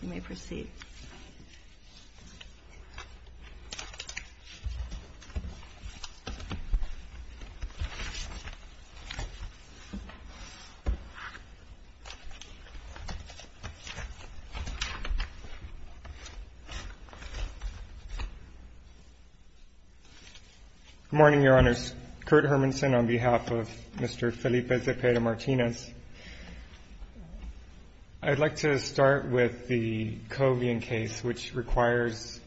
Good morning, Your Honors. Kurt Hermanson on behalf of Mr. Felipe Zepeda-Martinez. I'd like to start with the Covian case, which requires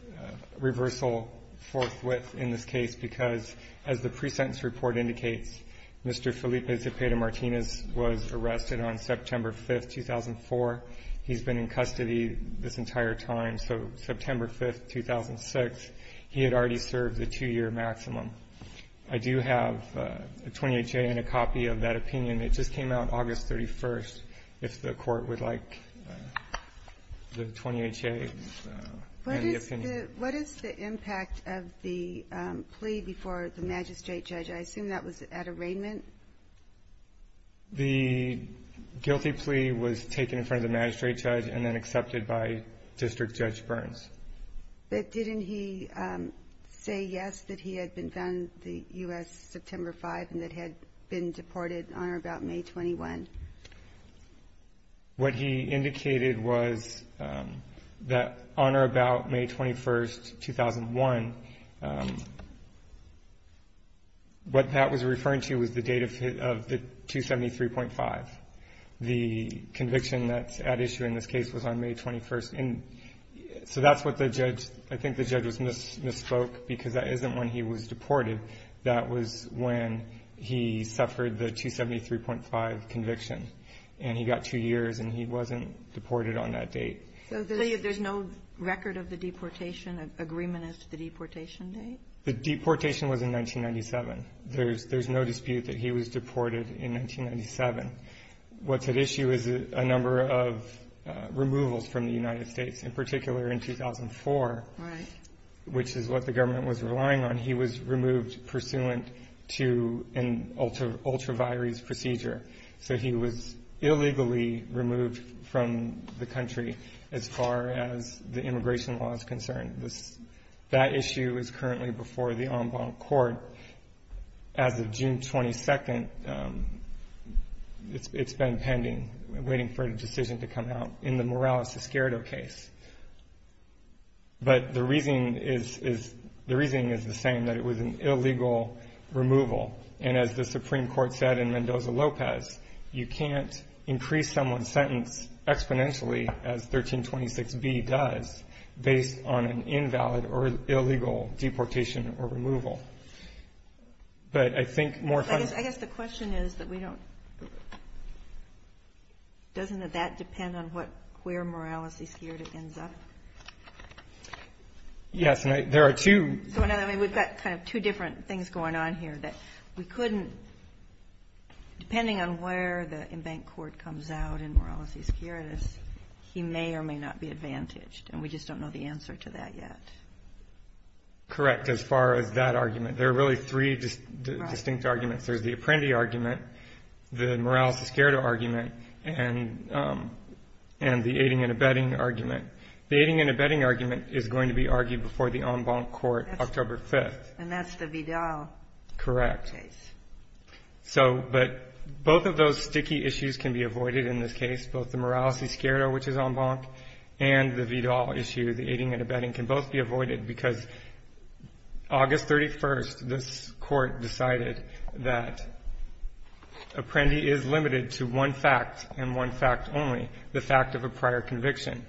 reversal forthwith in this case because, as the pre-sentence report indicates, Mr. Felipe Zepeda-Martinez was arrested on September 5th, 2004. He's been in custody this entire time, so September 5th, 2006, he had already served a two-year maximum. I do have a 20HA and a copy of that opinion. It just came out August 31st, if the Court would like the 20HA and the opinion. What is the impact of the plea before the magistrate judge? I assume that was at arraignment? The guilty plea was taken in front of the magistrate judge and then accepted by District Judge Burns. But didn't he say yes, that he had been found in the U.S. September 5th and that he had been deported on or about May 21st? What he indicated was that on or about May 21st, 2001, what Pat was referring to was the date of the 273.5. The conviction that's at issue in this case was on May 21st. And so that's what the judge – I think the judge misspoke because that isn't when he was deported. That was when he suffered the 273.5 conviction, and he got two years and he wasn't deported on that date. So there's no record of the deportation, agreement as to the deportation date? The deportation was in 1997. There's no dispute that he was deported in 1997. What's at issue is a number of removals from the United States. In particular, in 2004, which is what the government was relying on, he was removed pursuant to an ultra vires procedure. So he was illegally removed from the country as far as the immigration law is concerned. That issue is currently before the en banc court. As of June 22nd, it's been pending, waiting for a decision to come out in the Morales-Esquerdo case. But the reasoning is the same, that it was an illegal removal. And as the Supreme Court said in Mendoza-Lopez, you can't increase someone's sentence exponentially, as 1326b does, based on an invalid or illegal deportation or removal. But I think more fun... I guess the question is that we don't... Doesn't that depend on where Morales-Esquerdo ends up? Yes, and there are two... We've got kind of two different things going on here that we couldn't... Depending on where the en banc court comes out in Morales-Esquerdo, he may or may not be advantaged. And we just don't know the answer to that yet. Correct, as far as that argument. There are really three distinct arguments. There's the Apprendi argument, the Morales-Esquerdo argument, and the aiding and abetting argument. The aiding and abetting argument is going to be argued before the en banc court October 5th. And that's the Vidal case. Correct. So, but both of those sticky issues can be avoided in this case, both the Morales-Esquerdo, which is en banc, and the Vidal issue, the aiding and abetting, can both be avoided because August 31st, this Court decided that Apprendi is limited to one fact and one fact only, the fact of a prior conviction.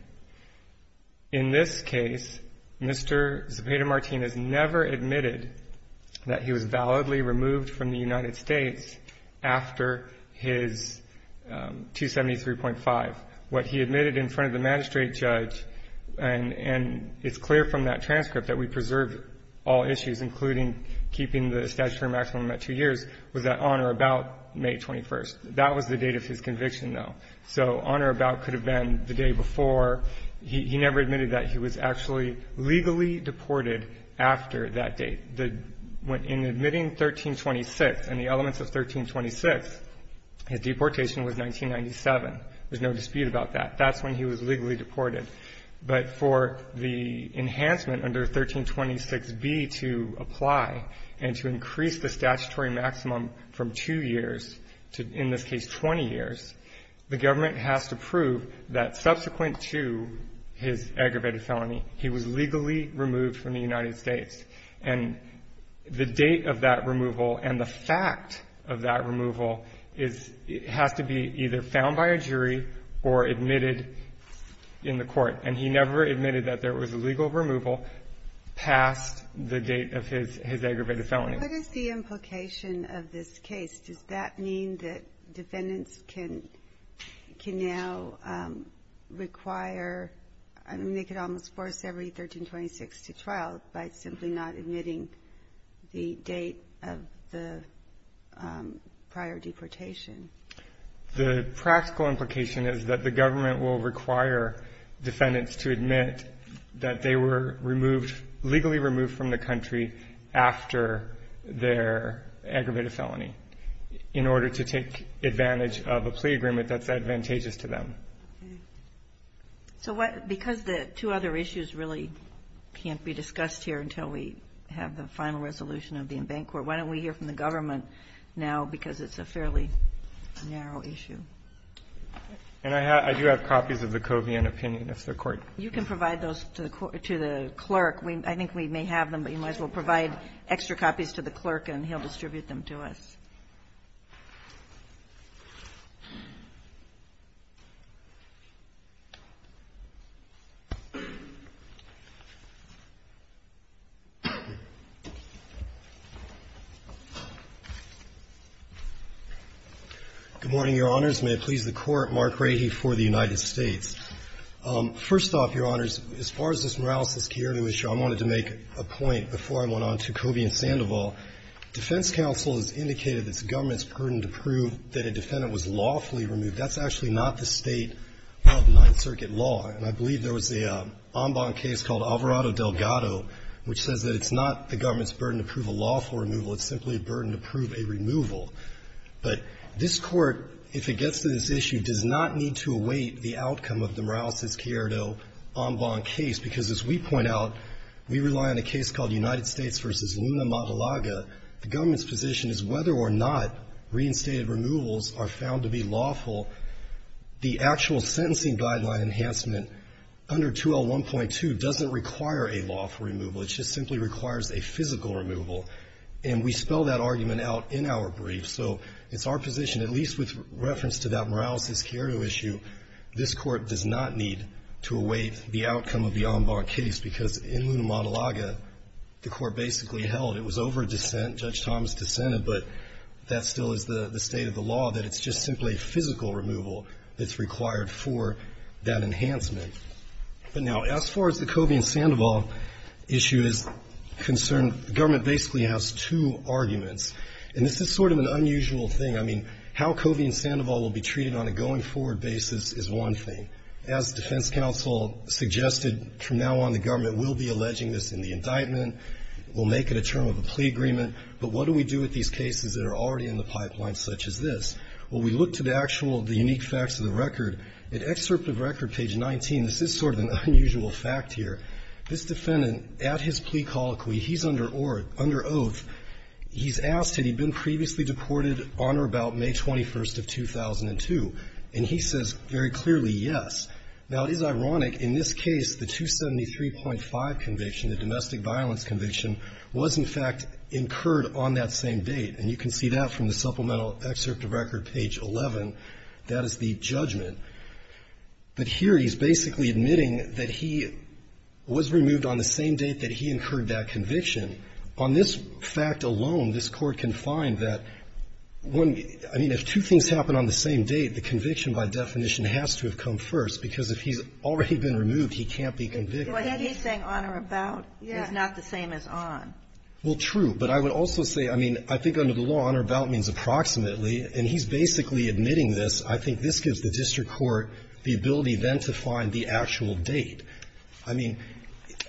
In this case, Mr. Zepeda-Martinez never admitted that he was validly removed from the United States after his 273.5. What he admitted in front of the magistrate judge, and it's clear from that transcript that we preserve all issues, including keeping the statutory maximum at two years, was that on or about May 21st. That was the date of his conviction, though. So on or about could have been the day before. He never admitted that he was actually legally deported after that date. In admitting 1326 and the elements of 1326, his deportation was 1997. There's no dispute about that. That's when he was legally deported. But for the enhancement under 1326b to apply and to increase the statutory maximum from two years to, in this case, 20 years, the government has to prove that subsequent to his aggravated felony, he was legally removed from the United States. And the date of that removal and the fact of that removal is – has to be either found by a jury or admitted in the court. And he never admitted that there was a legal removal past the date of his aggravated felony. What is the implication of this case? Does that mean that defendants can now require – I mean, they could almost force every 1326 to trial by simply not admitting the date of the prior deportation. The practical implication is that the government will require defendants to admit that they were removed – legally removed from the country after their aggravated felony in order to take advantage of a plea agreement that's advantageous to them. So what – because the two other issues really can't be discussed here until we have the final resolution of the in-bank court, so why don't we hear from the government now, because it's a fairly narrow issue. And I do have copies of the Covian opinion. It's the court. You can provide those to the clerk. I think we may have them, but you might as well provide extra copies to the clerk and he'll distribute them to us. Good morning, Your Honors. May it please the Court. Mark Rahe for the United States. First off, Your Honors, as far as this Morales-Laschiere issue, I wanted to make a point before I went on to Covian-Sandoval. Defense counsel has indicated it's the government's burden to prove that a defendant was lawfully removed. That's actually not the state of Ninth Circuit law. And I believe there was an en banc case called Alvarado-Delgado, which says that it's not the government's burden to prove a lawful removal. It's simply a burden to prove a removal. But this Court, if it gets to this issue, does not need to await the outcome of the Morales-Laschiere en banc case, because as we point out, we rely on a case called United States v. Luna-Matalaga. The government's position is whether or not reinstated removals are found to be lawful. The actual sentencing guideline enhancement under 2L1.2 doesn't require a lawful removal. It just simply requires a physical removal. And we spell that argument out in our brief. So it's our position, at least with reference to that Morales-Laschiere issue, this Court does not need to await the outcome of the en banc case, because in Luna-Matalaga, the Court basically held it was over dissent, Judge Thomas dissented, but that still is the state of the law, that it's just simply physical removal that's required for that enhancement. But now, as far as the Covey and Sandoval issue is concerned, the government basically has two arguments. And this is sort of an unusual thing. I mean, how Covey and Sandoval will be treated on a going-forward basis is one thing. As defense counsel suggested from now on, the government will be alleging this in the indictment, will make it a term of a plea agreement. But what do we do with these cases that are already in the pipeline, such as this? Well, we look to the actual, the unique facts of the record. In excerpt of record, page 19, this is sort of an unusual fact here. This defendant, at his plea colloquy, he's under oath. He's asked had he been previously deported on or about May 21st of 2002. And he says very clearly, yes. Now, it is ironic, in this case, the 273.5 conviction, the domestic violence conviction, was, in fact, incurred on that same date. And you can see that from the supplemental excerpt of record, page 11. That is the judgment. But here he's basically admitting that he was removed on the same date that he incurred that conviction. On this fact alone, this Court can find that when, I mean, if two things happen on the same date, the conviction, by definition, has to have come first. Because if he's already been removed, he can't be convicted. But then he's saying on or about is not the same as on. Well, true. But I would also say, I mean, I think under the law, on or about means approximately. And he's basically admitting this. I think this gives the district court the ability then to find the actual date. I mean,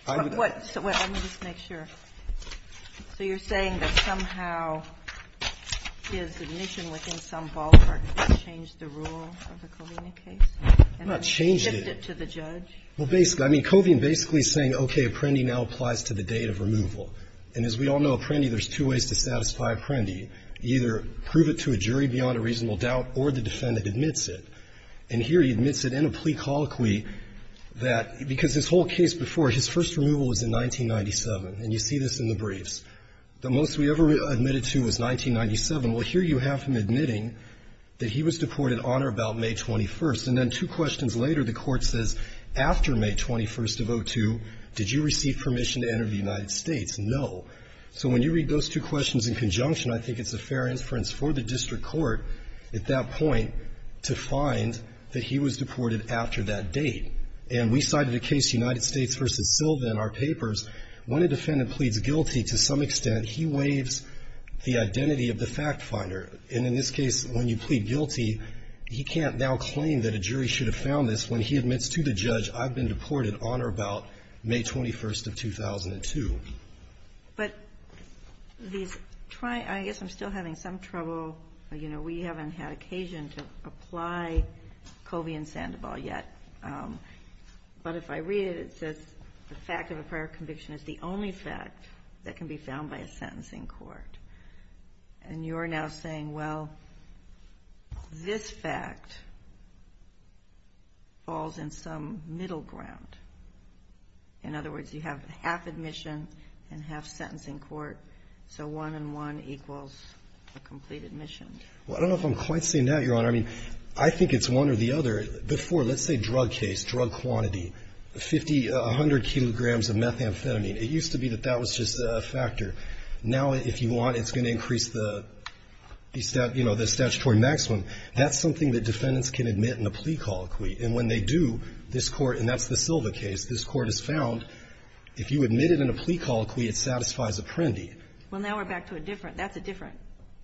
I would. Sotomayor, so what, let me just make sure. So you're saying that somehow his admission within some ballpark changed the rule of the Covina case? I'm not changing it. And then he shipped it to the judge? Well, basically. I mean, Covina basically is saying, okay, Apprendi now applies to the date of removal. And as we all know, Apprendi, there's two ways to satisfy Apprendi. Either prove it to a jury beyond a reasonable doubt, or the defendant admits it. The first removal was in 1997. And you see this in the briefs. The most we ever admitted to was 1997. Well, here you have him admitting that he was deported on or about May 21st. And then two questions later, the court says, after May 21st of 02, did you receive permission to enter the United States? No. So when you read those two questions in conjunction, I think it's a fair inference for the district court at that point to find that he was deported after that date. And we cited a case, United States v. Silva, in our papers. When a defendant pleads guilty to some extent, he waives the identity of the factfinder. And in this case, when you plead guilty, he can't now claim that a jury should have found this when he admits to the judge, I've been deported on or about May 21st of 2002. But these try to – I guess I'm still having some trouble. You know, we haven't had occasion to apply Covina and Sandoval yet. But if I read it, it says the fact of a prior conviction is the only fact that can be found by a sentencing court. And you're now saying, well, this fact falls in some middle ground. In other words, you have half admission and half sentencing court, so one and one equals a complete admission. Well, I don't know if I'm quite seeing that, Your Honor. I mean, I think it's one or the other. Before, let's say drug case, drug quantity, 50, 100 kilograms of methamphetamine. It used to be that that was just a factor. Now, if you want, it's going to increase the, you know, the statutory maximum. That's something that defendants can admit in a plea colloquy. And when they do, this Court – and that's the Silva case – this Court has found if you admit it in a plea colloquy, it satisfies a prendi. Well, now we're back to a different – that's a different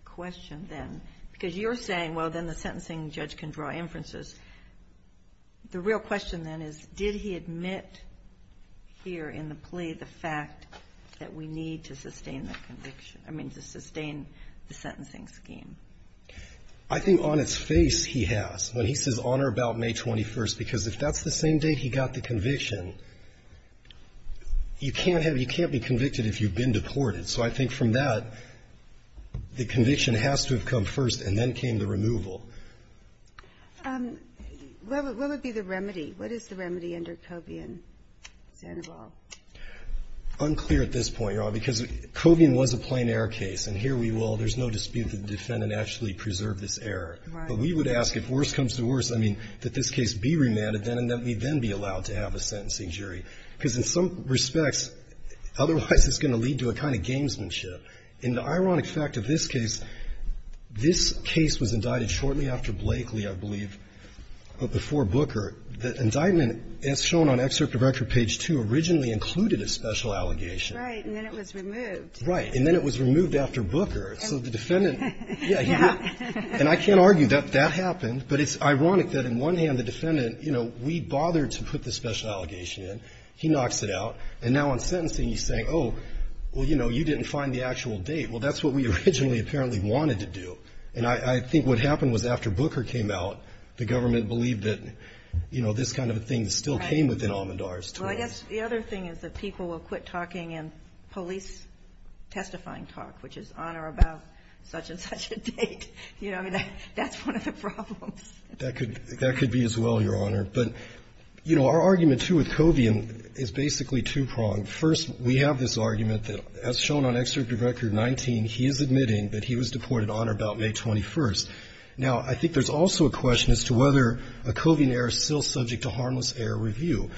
question then. Because you're saying, well, then the sentencing judge can draw inferences. The real question then is, did he admit here in the plea the fact that we need to sustain the conviction – I mean, to sustain the sentencing scheme? I think on its face he has, when he says, Honor about May 21st, because if that's the same date he got the conviction, you can't have – you can't be convicted if you've been deported. So I think from that, the conviction has to have come first, and then came the removal. What would be the remedy? What is the remedy under Covian, Sandoval? Unclear at this point, Your Honor, because Covian was a plain-error case. And here we will – there's no dispute that the defendant actually preserved this error. But we would ask if worse comes to worse, I mean, that this case be remanded then, and that we then be allowed to have a sentencing jury. Because in some respects, otherwise it's going to lead to a kind of gamesmanship. And the ironic fact of this case, this case was indicted shortly after Blakely, I believe, but before Booker. The indictment, as shown on Excerpt of Record, page 2, originally included a special allegation. Right. And then it was removed. Right. And then it was removed after Booker. So the defendant – Yeah. And I can't argue that that happened. But it's ironic that in one hand the defendant, you know, we bothered to put the special allegation in. He knocks it out. And now on sentencing he's saying, oh, well, you know, you didn't find the actual date. Well, that's what we originally apparently wanted to do. And I think what happened was after Booker came out, the government believed that, you know, this kind of a thing still came within Almendar's term. Well, I guess the other thing is that people will quit talking in police testifying talk, which is honor about such-and-such a date. You know, I mean, that's one of the problems. That could be as well, Your Honor. But, you know, our argument, too, with Covian is basically two-pronged. First, we have this argument that as shown on Excerpt of Record 19, he is admitting that he was deported on or about May 21st. Now, I think there's also a question as to whether a Covian error is still subject to harmless error review.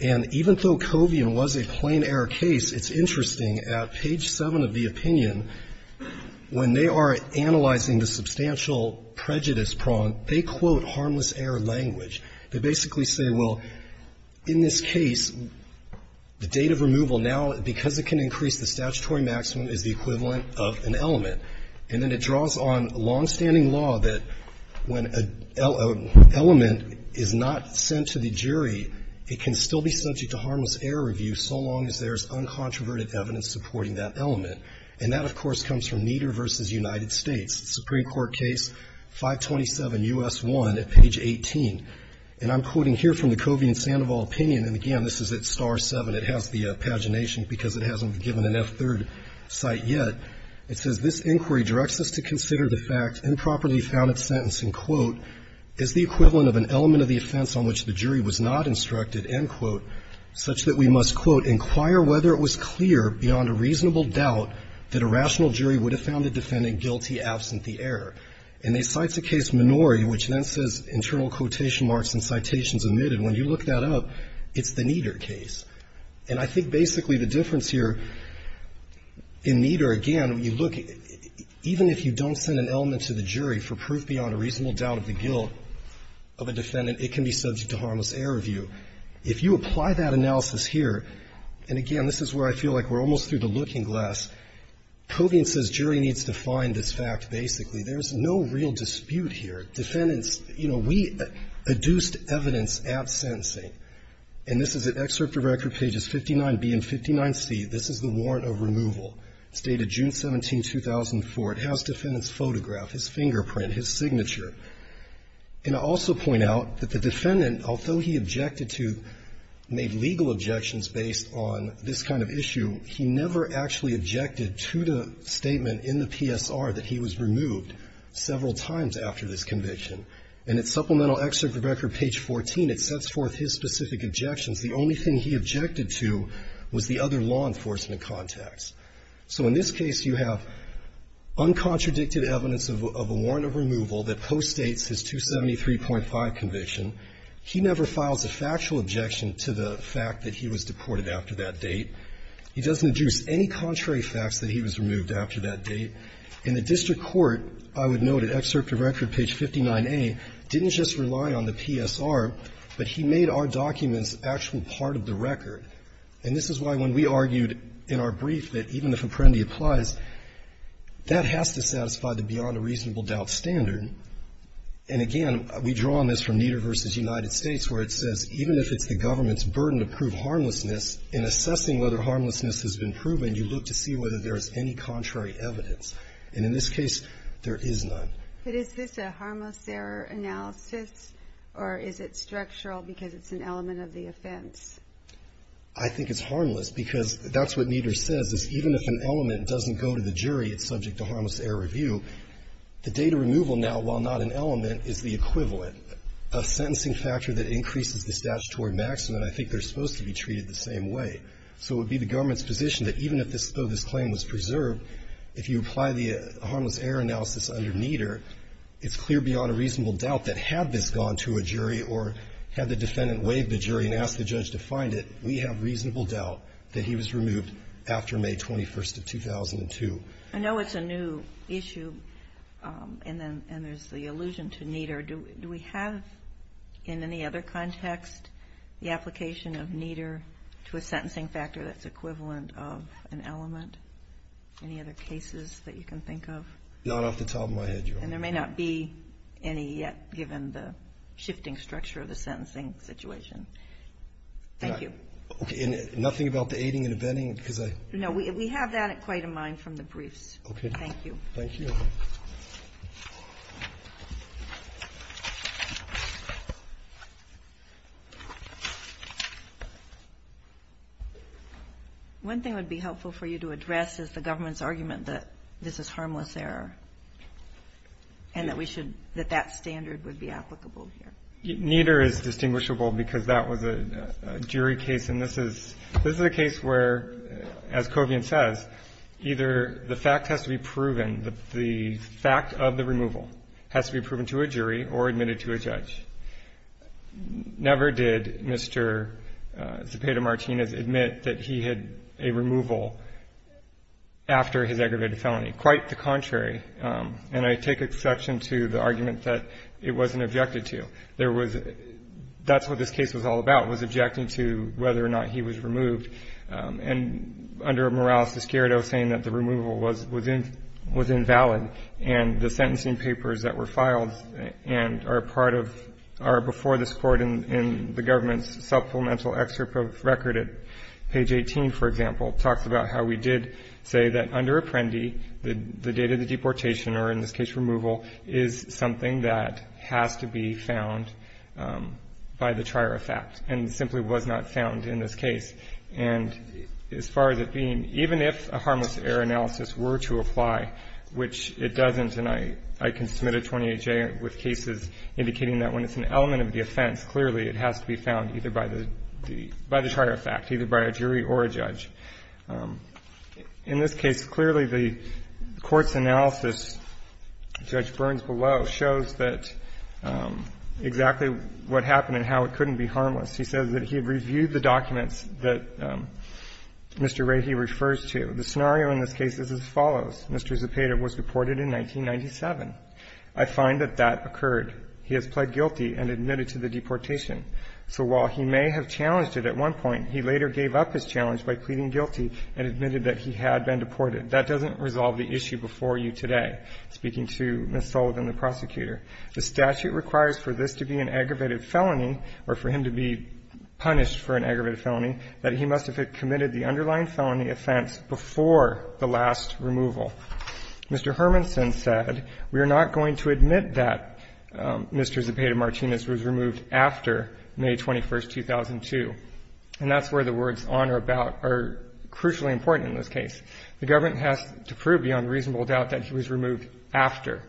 And even though Covian was a plain error case, it's interesting at page 7 of the opinion, when they are analyzing the substantial prejudice prong, they quote harmless error language. They basically say, well, in this case, the date of removal now, because it can increase the statutory maximum, is the equivalent of an element. And then it draws on long-standing law that when an element is not sent to the jury, it can still be subject to harmless error review so long as there is uncontroverted evidence supporting that element. And that, of course, comes from Nieder v. United States. It's a Supreme Court case, 527 U.S. 1 at page 18. And I'm quoting here from the Covian-Sandoval opinion. And again, this is at star 7. It has the pagination because it hasn't been given an F-3rd cite yet. It says, This inquiry directs us to consider the fact improperly found at sentence, and quote, is the equivalent of an element of the offense on which the jury was not instructed, end quote, such that we must, quote, inquire whether it was clear beyond a reasonable doubt that a rational jury would have found the defendant guilty absent the error. And they cite the case Minori, which then says internal quotation marks and citations omitted. When you look that up, it's the Nieder case. And I think basically the difference here in Nieder, again, when you look, even if you don't send an element to the jury for proof beyond a reasonable doubt of the guilt of a defendant, it can be subject to harmless error review. If you apply that analysis here, and again, this is where I feel like we're almost through the looking glass, Podian says jury needs to find this fact basically. There's no real dispute here. Defendants, you know, we adduced evidence at sentencing. And this is at Excerpt to Record, pages 59B and 59C. This is the warrant of removal, stated June 17, 2004. It has defendant's photograph, his fingerprint, his signature. And I'll also point out that the defendant, although he objected to, made legal objections based on this kind of issue, he never actually objected to the statement in the PSR that he was removed several times after this conviction. And at Supplemental Excerpt to Record, page 14, it sets forth his specific objections. The only thing he objected to was the other law enforcement contacts. So in this case, you have uncontradicted evidence of a warrant of removal that post-states his 273.5 conviction. He never files a factual objection to the fact that he was deported after that date. He doesn't adduce any contrary facts that he was removed after that date. In the district court, I would note at Excerpt to Record, page 59A, didn't just rely on the PSR, but he made our documents actual part of the record. And this is why when we argued in our brief that even if Apprendi applies, that has to satisfy the beyond-a-reasonable-doubt standard. And again, we draw on this from Nieder v. United States, where it says, even if it's the government's burden to prove harmlessness, in assessing whether harmlessness has been proven, you look to see whether there is any contrary evidence. And in this case, there is none. But is this a harmless error analysis, or is it structural because it's an element of the offense? I think it's harmless because that's what Nieder says, is even if an element doesn't go to the jury, it's subject to harmless error review. The data removal now, while not an element, is the equivalent. A sentencing factor that increases the statutory maximum, I think they're supposed to be treated the same way. So it would be the government's position that even if this claim was preserved, if you apply the harmless error analysis under Nieder, it's clear beyond a reasonable doubt that had this gone to a jury or had the defendant waived the jury and asked the judge to find it, we have reasonable doubt that he was removed after May 21st of 2002. I know it's a new issue, and there's the allusion to Nieder. Do we have in any other context the application of Nieder to a sentencing factor that's equivalent of an element? Any other cases that you can think of? Not off the top of my head, Your Honor. And there may not be any yet, given the shifting structure of the sentencing Thank you. Okay. And nothing about the aiding and abetting? No. We have that quite in mind from the briefs. Okay. Thank you. Thank you. One thing that would be helpful for you to address is the government's argument that this is harmless error and that we should, that that standard would be applicable here. Nieder is distinguishable because that was a jury case, and this is a case where as Covian says, either the fact has to be proven, the fact of the removal has to be proven to a jury or admitted to a judge. Never did Mr. Zepeda-Martinez admit that he had a removal after his aggravated felony. Quite the contrary. And I take exception to the argument that it wasn't objected to. There was, that's what this case was all about, was objecting to whether or not he was removed. And under Morales-Escarido saying that the removal was invalid and the sentencing papers that were filed and are part of, are before this Court in the government's supplemental excerpt of record at page 18, for example, talks about how we did say that under Apprendi, the date of the deportation or in this case removal, is something that has to be found by the trier of fact and simply was not found in this case. And as far as it being, even if a harmless error analysis were to apply, which it doesn't, and I can submit a 28J with cases indicating that when it's an element of the offense, clearly it has to be found either by the trier of fact, either by a jury or a judge. In this case, clearly the Court's analysis, Judge Burns below, shows that exactly what happened and how it couldn't be harmless. He says that he reviewed the documents that Mr. Rahe refers to. The scenario in this case is as follows. Mr. Zepeda was deported in 1997. I find that that occurred. He has pled guilty and admitted to the deportation. So while he may have challenged it at one point, he later gave up his challenge by pleading guilty and admitted that he had been deported. That doesn't resolve the issue before you today, speaking to Ms. Sullivan, the prosecutor. The statute requires for this to be an aggravated felony, or for him to be punished for an aggravated felony, that he must have committed the underlying felony offense before the last removal. Mr. Hermansen said, we are not going to admit that Mr. Zepeda Martinez was removed after May 21, 2002. And that's where the words on or about are crucially important in this case. The government has to prove beyond reasonable doubt that he was removed after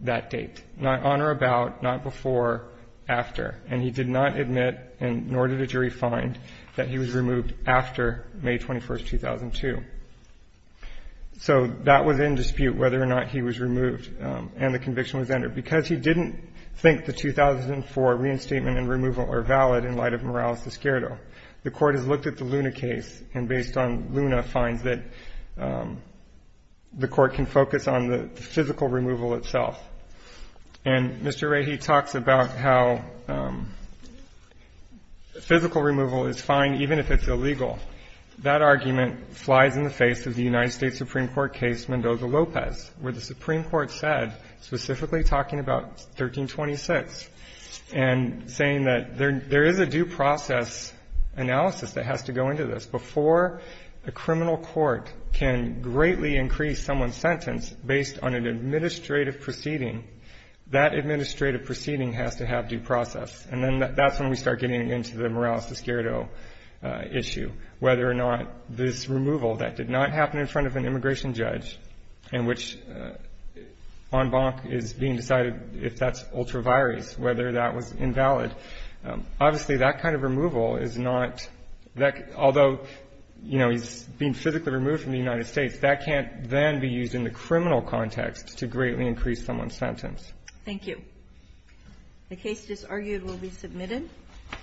that date, not on or about, not before, after. And he did not admit, nor did a jury find, that he was removed after May 21, 2002. So that was in dispute, whether or not he was removed and the conviction was entered. Because he didn't think the 2004 reinstatement and removal were valid in light of Morales Esquerdo. The Court has looked at the Luna case, and based on Luna, finds that the Court can focus on the physical removal itself. And Mr. Rahe talks about how physical removal is fine, even if it's illegal. That argument flies in the face of the United States Supreme Court case Mendoza-Lopez, where the Supreme Court said, specifically talking about 1326, and saying that there is a due process analysis that has to go into this. Before a criminal court can greatly increase someone's sentence based on an administrative proceeding, that administrative proceeding has to have due process. And then that's when we start getting into the Morales Esquerdo issue, whether or not this removal that did not happen in front of an immigration judge, in which en banc is being decided if that's ultra vires, whether that was invalid. Obviously, that kind of removal is not that, although, you know, he's being physically removed from the United States, that can't then be used in the criminal context to greatly increase someone's sentence. Thank you.